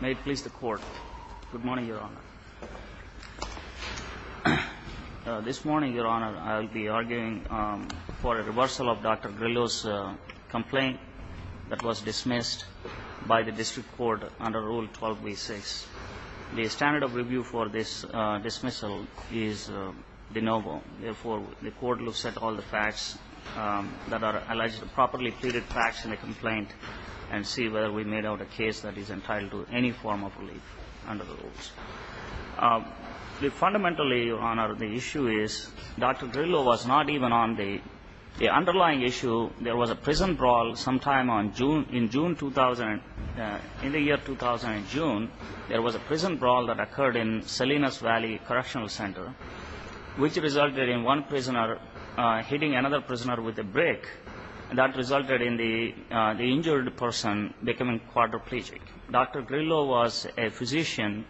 May it please the Court. Good morning, Your Honor. This morning, Your Honor, I will be arguing for a reversal of Dr. Grillo's complaint that was dismissed by the District Court under Rule 12b-6. The standard of review for this dismissal is de novo. Therefore, the Court will set all the facts that are alleged, properly pleaded facts in the complaint and see whether we made out a case that is entitled to any form of relief under the rules. Fundamentally, Your Honor, the issue is Dr. Grillo was not even on the underlying issue. There was a prison brawl sometime in the year 2000 in June. There was a prison brawl that occurred in Salinas Valley Correctional Center, which resulted in one prisoner hitting another prisoner with a brick. That resulted in the injured person becoming quadriplegic. Dr. Grillo was a physician.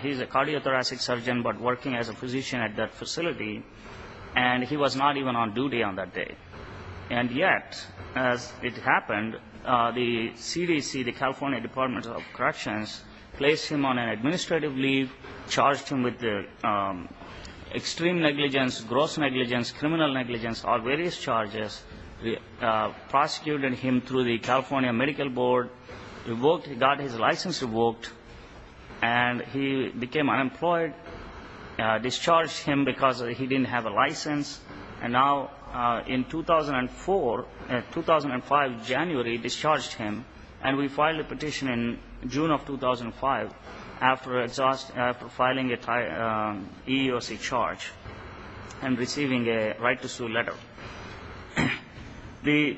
He's a cardiothoracic surgeon, but working as a physician at that facility, and he was not even on duty on that day. And yet, as it happened, the CDC, the California Department of Corrections, placed him on an administrative leave, charged him with extreme negligence, gross negligence, criminal negligence, or various charges, prosecuted him through the California Medical Board, got his license revoked, and he became unemployed, discharged him because he didn't have a license, and now in 2004, 2005, January, discharged him, and we filed a petition in June of 2005 after filing an EEOC charge and receiving a right to sue letter.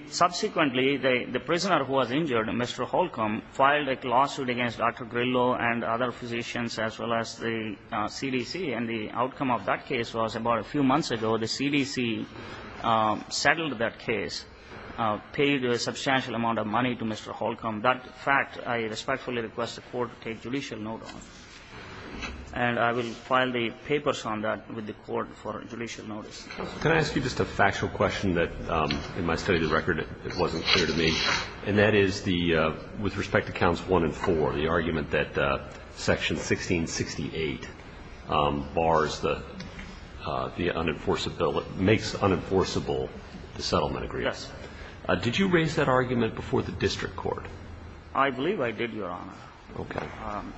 Subsequently, the prisoner who was injured, Mr. Holcomb, filed a lawsuit against Dr. Grillo and other physicians as well as the CDC, and the outcome of that case was about a few months ago, the CDC settled that case, paid a substantial amount of money to Mr. Holcomb. That fact, I respectfully request the Court to take judicial note on, and I will file the papers on that with the Court for judicial notice. Can I ask you just a factual question that, in my study of the record, it wasn't clear to me, and that is the, with respect to counts one and four, the argument that section 1668 bars the unenforceability, makes unenforceable the settlement agreement. Yes. Did you raise that argument before the district court? I believe I did, Your Honor. Okay.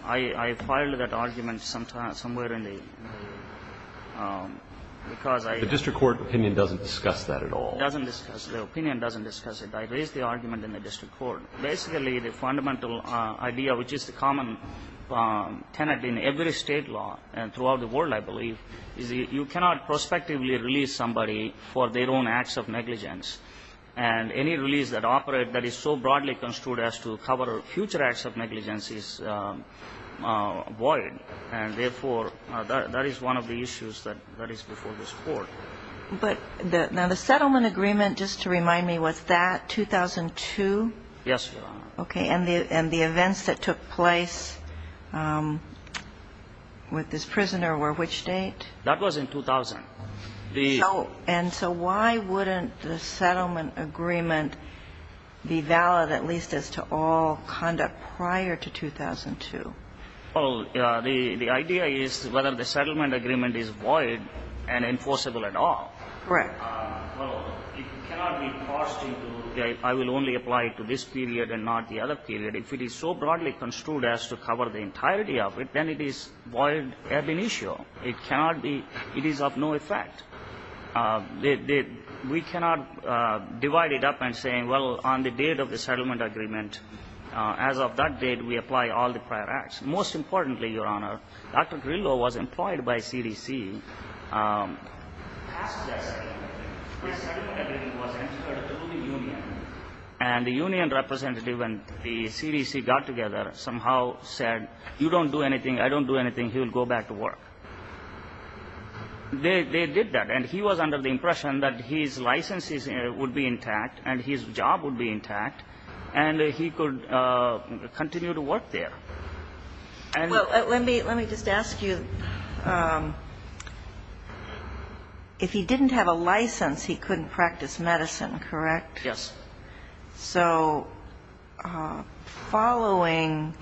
I filed that argument somewhere in the, because I ---- The district court opinion doesn't discuss that at all. It doesn't discuss it. The opinion doesn't discuss it. I raised the argument in the district court. Basically, the fundamental idea, which is the common tenet in every state law and throughout the world, I believe, is you cannot prospectively release somebody for their own acts of negligence, and any release that operate that is so broadly construed as to cover future acts of negligence is void, and therefore, that is one of the issues that is before this Court. But now, the settlement agreement, just to remind me, was that 2002? Yes, Your Honor. Okay. And the events that took place with this prisoner were which date? That was in 2000. So why wouldn't the settlement agreement be valid at least as to all conduct prior to 2002? Well, the idea is whether the settlement agreement is void and enforceable at all. Right. Well, it cannot be forced into I will only apply to this period and not the other period. If it is so broadly construed as to cover the entirety of it, then it is void ab initio. It cannot be ---- it is of no effect. We cannot divide it up and say, well, on the date of the settlement agreement, as of that date, we apply all the prior acts. Most importantly, Your Honor, Dr. Grillo was employed by CDC. After that settlement agreement, the settlement agreement was transferred to the union, and the union representative and the CDC got together, somehow said, you don't do anything, I don't do anything, he will go back to work. They did that, and he was under the impression that his license would be intact and his job would be intact, and he could continue to work there. Well, let me just ask you, if he didn't have a license, he couldn't practice medicine, correct? Yes. So following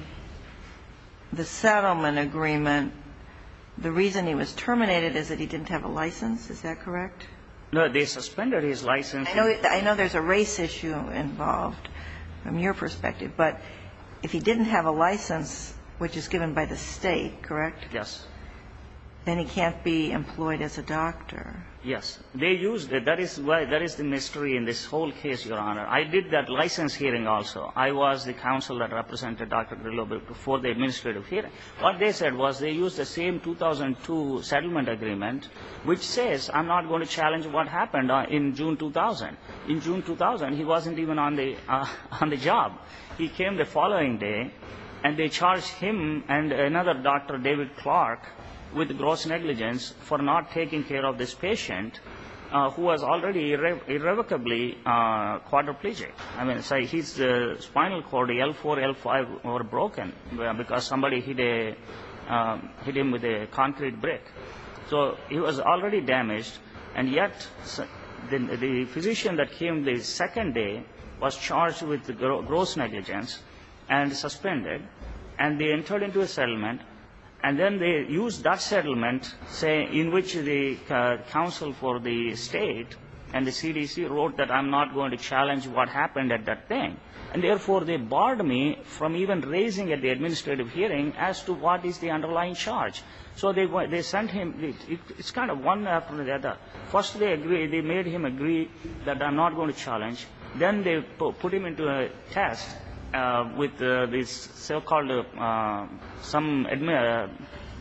the settlement agreement, the reason he was terminated is that he didn't have a license, is that correct? No, they suspended his license. I know there's a race issue involved from your perspective, but if he didn't have a license, which is given by the State, correct? Yes. Then he can't be employed as a doctor. Yes. They used it. That is the mystery in this whole case, Your Honor. I did that license hearing also. I was the counsel that represented Dr. Grillo before the administrative hearing. What they said was they used the same 2002 settlement agreement, which says I'm not going to challenge what happened in June 2000. In June 2000, he wasn't even on the job. He came the following day, and they charged him and another doctor, David Clark, with gross negligence for not taking care of this patient who was already irrevocably quadriplegic. I mean, his spinal cord, L4, L5, were broken because somebody hit him with a concrete brick. So he was already damaged, and yet the physician that came the second day was charged with gross negligence and suspended, and they entered into a settlement, and then they used that settlement, in which the counsel for the State and the CDC wrote that I'm not going to challenge what happened at that thing. And, therefore, they barred me from even raising at the administrative hearing as to what is the underlying charge. So they sent him. It's kind of one after the other. First, they made him agree that I'm not going to challenge. Then they put him into a test with this so-called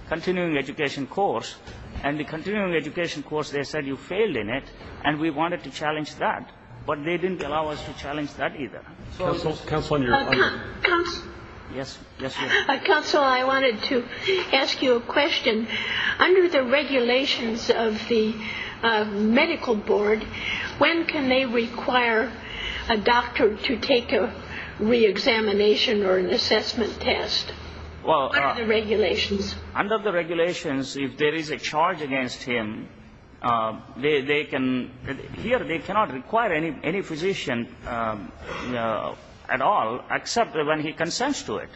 continuing education course, and the continuing education course, they said you failed in it, and we wanted to challenge that. But they didn't allow us to challenge that either. Counsel, I wanted to ask you a question. Under the regulations of the medical board, when can they require a doctor to take a reexamination or an assessment test? What are the regulations? Under the regulations, if there is a charge against him, they cannot require any physician at all except when he consents to it.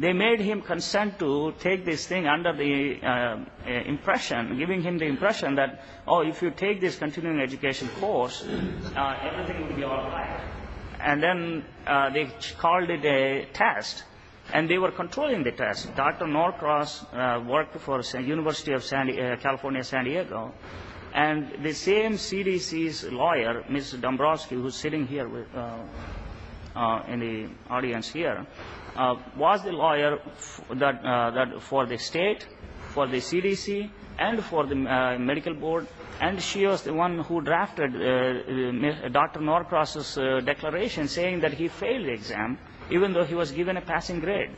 They made him consent to take this thing under the impression, giving him the impression that, oh, if you take this continuing education course, everything will be all right. And then they called it a test, and they were controlling the test. Dr. Norcross worked for the University of California, San Diego, and the same CDC's lawyer, Ms. Dombrowski, who is sitting here in the audience here, was the lawyer for the state, for the CDC, and for the medical board, and she was the one who drafted Dr. Norcross's declaration saying that he failed the exam, even though he was given a passing grade.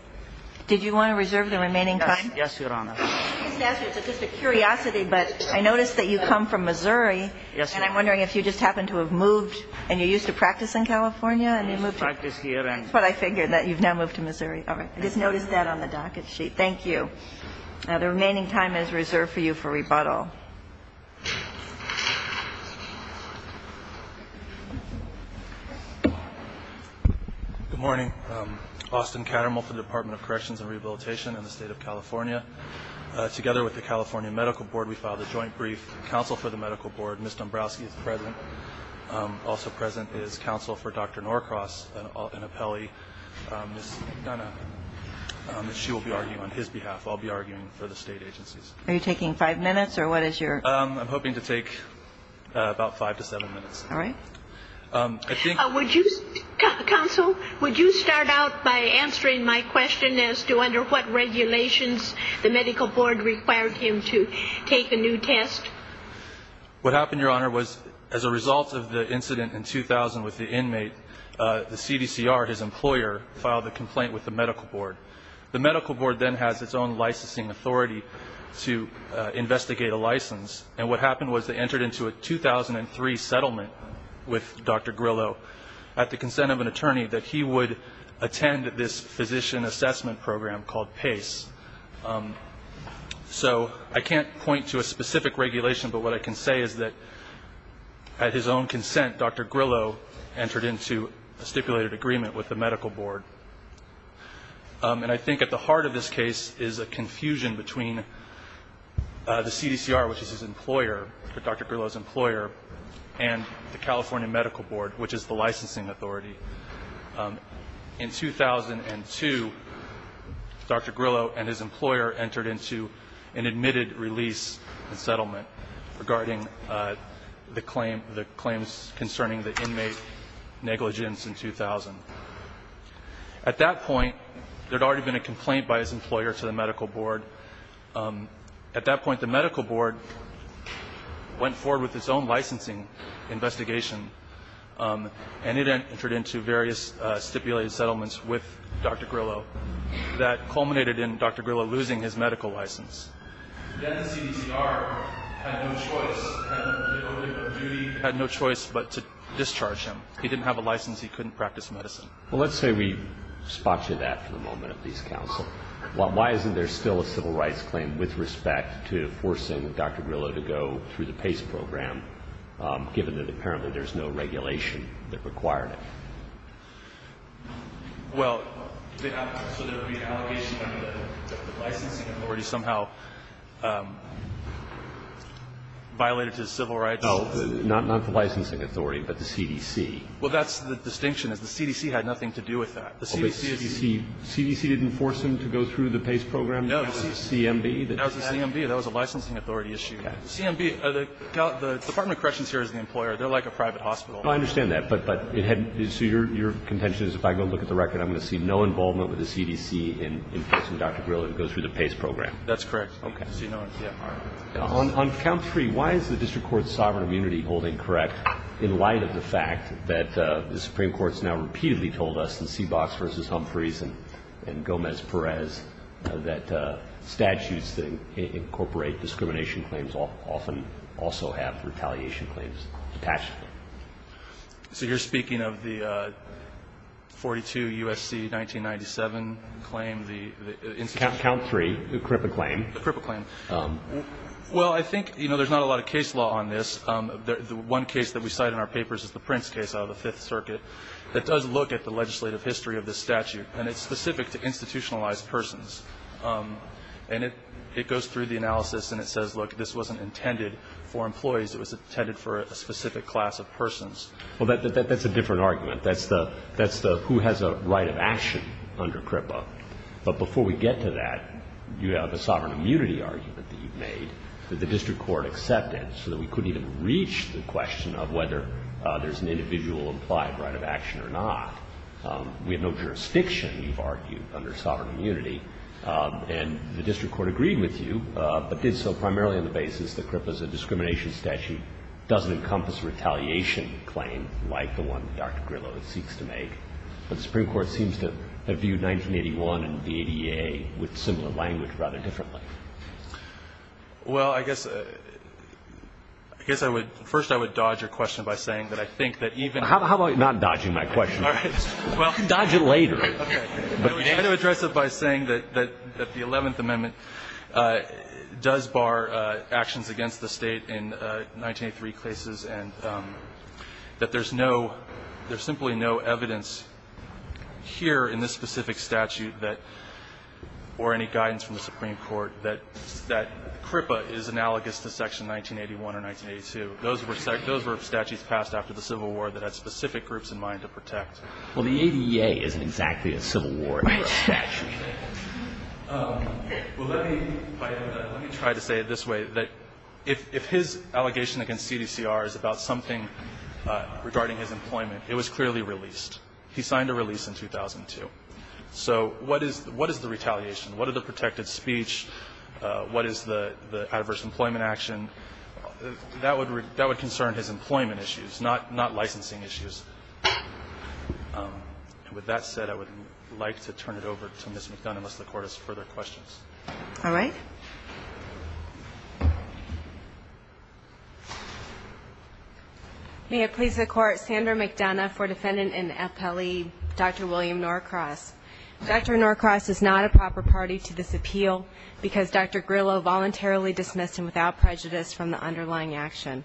Did you want to reserve the remaining time? Yes, Your Honor. I didn't ask you, it's just a curiosity, but I noticed that you come from Missouri. Yes, Your Honor. And I'm wondering if you just happened to have moved, and you're used to practice in California, and you moved here. I used to practice here. That's what I figured, that you've now moved to Missouri. All right. I just noticed that on the docket sheet. Thank you. Now, the remaining time is reserved for you for rebuttal. Good morning. Austin Kattermull for the Department of Corrections and Rehabilitation in the State of California. Together with the California Medical Board, we filed a joint brief. Counsel for the medical board, Ms. Dombrowski, is present. Also present is counsel for Dr. Norcross, an appellee, Ms. McDonough. She will be arguing on his behalf. I'll be arguing for the state agencies. Are you taking five minutes, or what is it? I'm hoping to take about five to seven minutes. All right. Counsel, would you start out by answering my question as to under what regulations the medical board required him to take a new test? What happened, Your Honor, was as a result of the incident in 2000 with the inmate, the CDCR, his employer, filed a complaint with the medical board. The medical board then has its own licensing authority to investigate a license, and what happened was they entered into a 2003 settlement with Dr. Grillo at the consent of an attorney that he would attend this physician assessment program called PACE. So I can't point to a specific regulation, but what I can say is that at his own consent, Dr. Grillo entered into a stipulated agreement with the medical board. And I think at the heart of this case is a confusion between the CDCR, which is his employer, Dr. Grillo's employer, and the California Medical Board, which is the licensing authority. In 2002, Dr. Grillo and his employer entered into an admitted release settlement regarding the claims concerning the inmate negligence in 2000. At that point, there had already been a complaint by his employer to the medical board. At that point, the medical board went forward with its own licensing investigation, and it entered into various stipulated settlements with Dr. Grillo that culminated in Dr. Grillo losing his medical license. Then the CDCR had no choice, had no choice but to discharge him. He didn't have a license. He couldn't practice medicine. Well, let's say we spot you that for the moment at least, counsel. Why isn't there still a civil rights claim with respect to forcing Dr. Grillo to go through the PACE program, given that apparently there's no regulation that required it? Well, so there would be an allegation that the licensing authority somehow violated his civil rights? Well, not the licensing authority, but the CDC. Well, that's the distinction, is the CDC had nothing to do with that. The CDC didn't force him to go through the PACE program? No. CMB? That was the CMB. That was a licensing authority issue. CMB, the Department of Corrections here is the employer. They're like a private hospital. I understand that, but it had to be. So your contention is if I go look at the record, I'm going to see no involvement with the CDC in forcing Dr. Grillo to go through the PACE program? That's correct. Okay. On count three, why is the district court's sovereign immunity holding correct in light of the fact that the Supreme Court's now repeatedly told us in Seabox v. Humphreys and Gomez-Perez that statutes that incorporate discrimination claims often also have retaliation claims attached? So you're speaking of the 42 U.S.C. 1997 claim, the institution? Count three, the CRIPA claim. The CRIPA claim. Well, I think, you know, there's not a lot of case law on this. The one case that we cite in our papers is the Prince case out of the Fifth Circuit. It does look at the legislative history of this statute, and it's specific to institutionalized persons. And it goes through the analysis, and it says, look, this wasn't intended for employees. It was intended for a specific class of persons. Well, that's a different argument. That's the who has a right of action under CRIPA. But before we get to that, you have a sovereign immunity argument that you've made that the district court accepted so that we couldn't even reach the question of whether there's an individual implied right of action or not. We have no jurisdiction, you've argued, under sovereign immunity. And the district court agreed with you, but did so primarily on the basis that CRIPA as a discrimination statute doesn't encompass a retaliation claim like the one that Dr. Grillo seeks to make. But the Supreme Court seems to have viewed 1981 and VADA with similar language rather differently. Well, I guess I would – first, I would dodge your question by saying that I think that even – How about not dodging my question? All right. Well – Dodge it later. Okay. I'm going to address it by saying that the Eleventh Amendment does bar actions against the State in 1983 cases, and that there's no – there's simply no evidence here in this specific statute that – or any guidance from the Supreme Court that CRIPA is analogous to Section 1981 or 1982. Those were – those were statutes passed after the Civil War that had specific groups in mind to protect. Well, the ADA isn't exactly a Civil War statute. Okay. Well, let me – let me try to say it this way, that if his allegation against CDCR is about something regarding his employment, it was clearly released. He signed a release in 2002. So what is the retaliation? What are the protected speech? What is the adverse employment action? That would concern his employment issues, not licensing issues. And with that said, I would like to turn it over to Ms. McDonough unless the Court has further questions. All right. May it please the Court. Sandra McDonough for Defendant in Appellee Dr. William Norcross. Dr. Norcross is not a proper party to this appeal because Dr. Grillo voluntarily dismissed him without prejudice from the underlying action.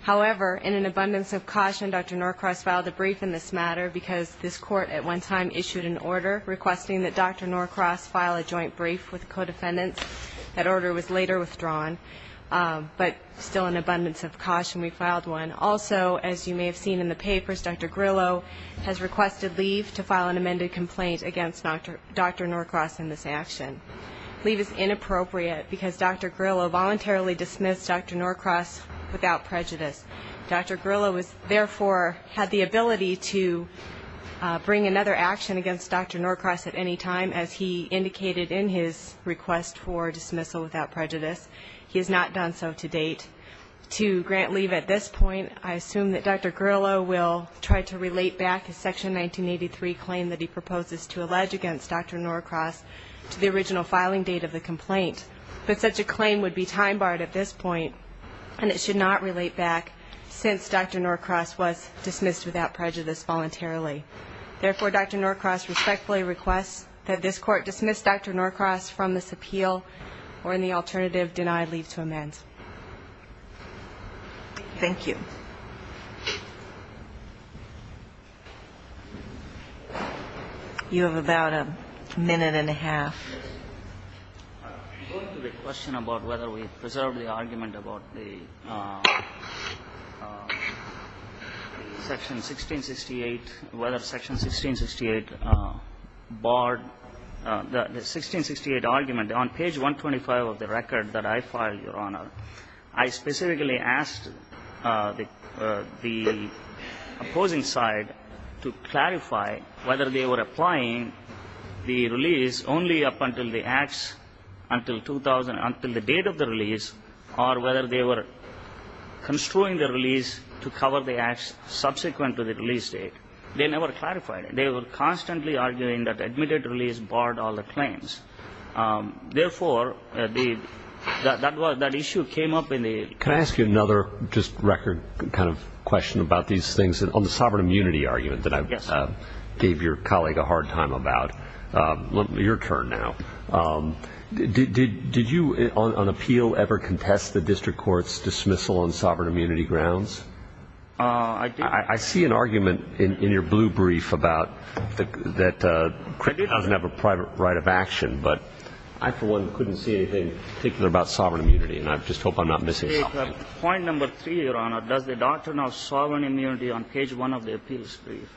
However, in an abundance of caution, Dr. Norcross filed a brief in this matter because this Court at one time issued an order requesting that Dr. Norcross file a joint brief with the co-defendants. That order was later withdrawn, but still in abundance of caution we filed one. Also, as you may have seen in the papers, Dr. Grillo has requested leave to file an amended complaint against Dr. Norcross in this action. Leave is inappropriate because Dr. Grillo voluntarily dismissed Dr. Norcross without prejudice. Dr. Grillo therefore had the ability to bring another action against Dr. Norcross at any time, as he indicated in his request for dismissal without prejudice. He has not done so to date. To grant leave at this point, I assume that Dr. Grillo will try to relate back his Section 1983 claim that he proposes to allege against Dr. Norcross to the original filing date of the complaint. But such a claim would be time-barred at this point. And it should not relate back since Dr. Norcross was dismissed without prejudice voluntarily. Therefore, Dr. Norcross respectfully requests that this Court dismiss Dr. Norcross from this appeal or, in the alternative, deny leave to amend. Thank you. You have about a minute and a half. Going to the question about whether we preserved the argument about the Section 1668, whether Section 1668 barred the 1668 argument, on page 125 of the record that I filed, Your Honor, I specifically asked the opposing side to clarify whether they were applying the release only up until the acts until the date of the release or whether they were construing the release to cover the acts subsequent to the release date. They never clarified it. They were constantly arguing that the admitted release barred all the claims. Therefore, that issue came up in the ---- Can I ask you another just record kind of question about these things on the that you gave your colleague a hard time about. Your turn now. Did you on appeal ever contest the district court's dismissal on sovereign immunity grounds? I see an argument in your blue brief about that credit doesn't have a private right of action, but I, for one, couldn't see anything particular about sovereign immunity, and I just hope I'm not missing something. Point number three, Your Honor, does the doctrine of sovereign immunity on page one of the appeals brief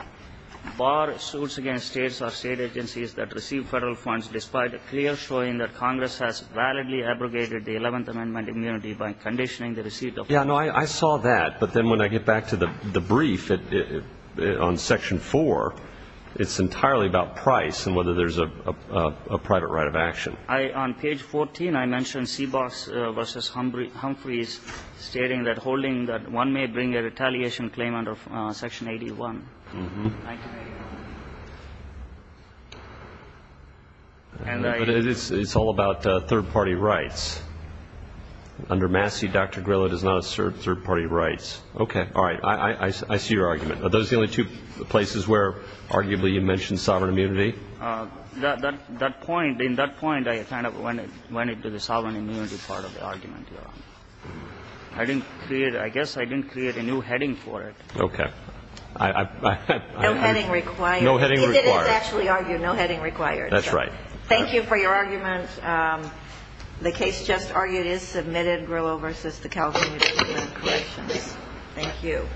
bar suits against states or state agencies that receive federal funds despite a clear showing that Congress has validly abrogated the Eleventh Amendment immunity by conditioning the receipt of funds? Yeah, no, I saw that. But then when I get back to the brief on section four, it's entirely about price and whether there's a private right of action. On page 14, I mentioned Seabox v. Humphreys stating that holding that one may bring a retaliation claim under section 81. But it's all about third-party rights. Under Massey, Dr. Grillo does not assert third-party rights. Okay. All right. I see your argument. Are those the only two places where arguably you mentioned sovereign immunity? That point, in that point, I kind of went into the sovereign immunity part of the argument, Your Honor. I didn't create – I guess I didn't create a new heading for it. Okay. No heading required. No heading required. He didn't actually argue no heading required. That's right. Thank you for your argument. The case just argued is submitted. Grillo v. The California Department of Corrections. Thank you.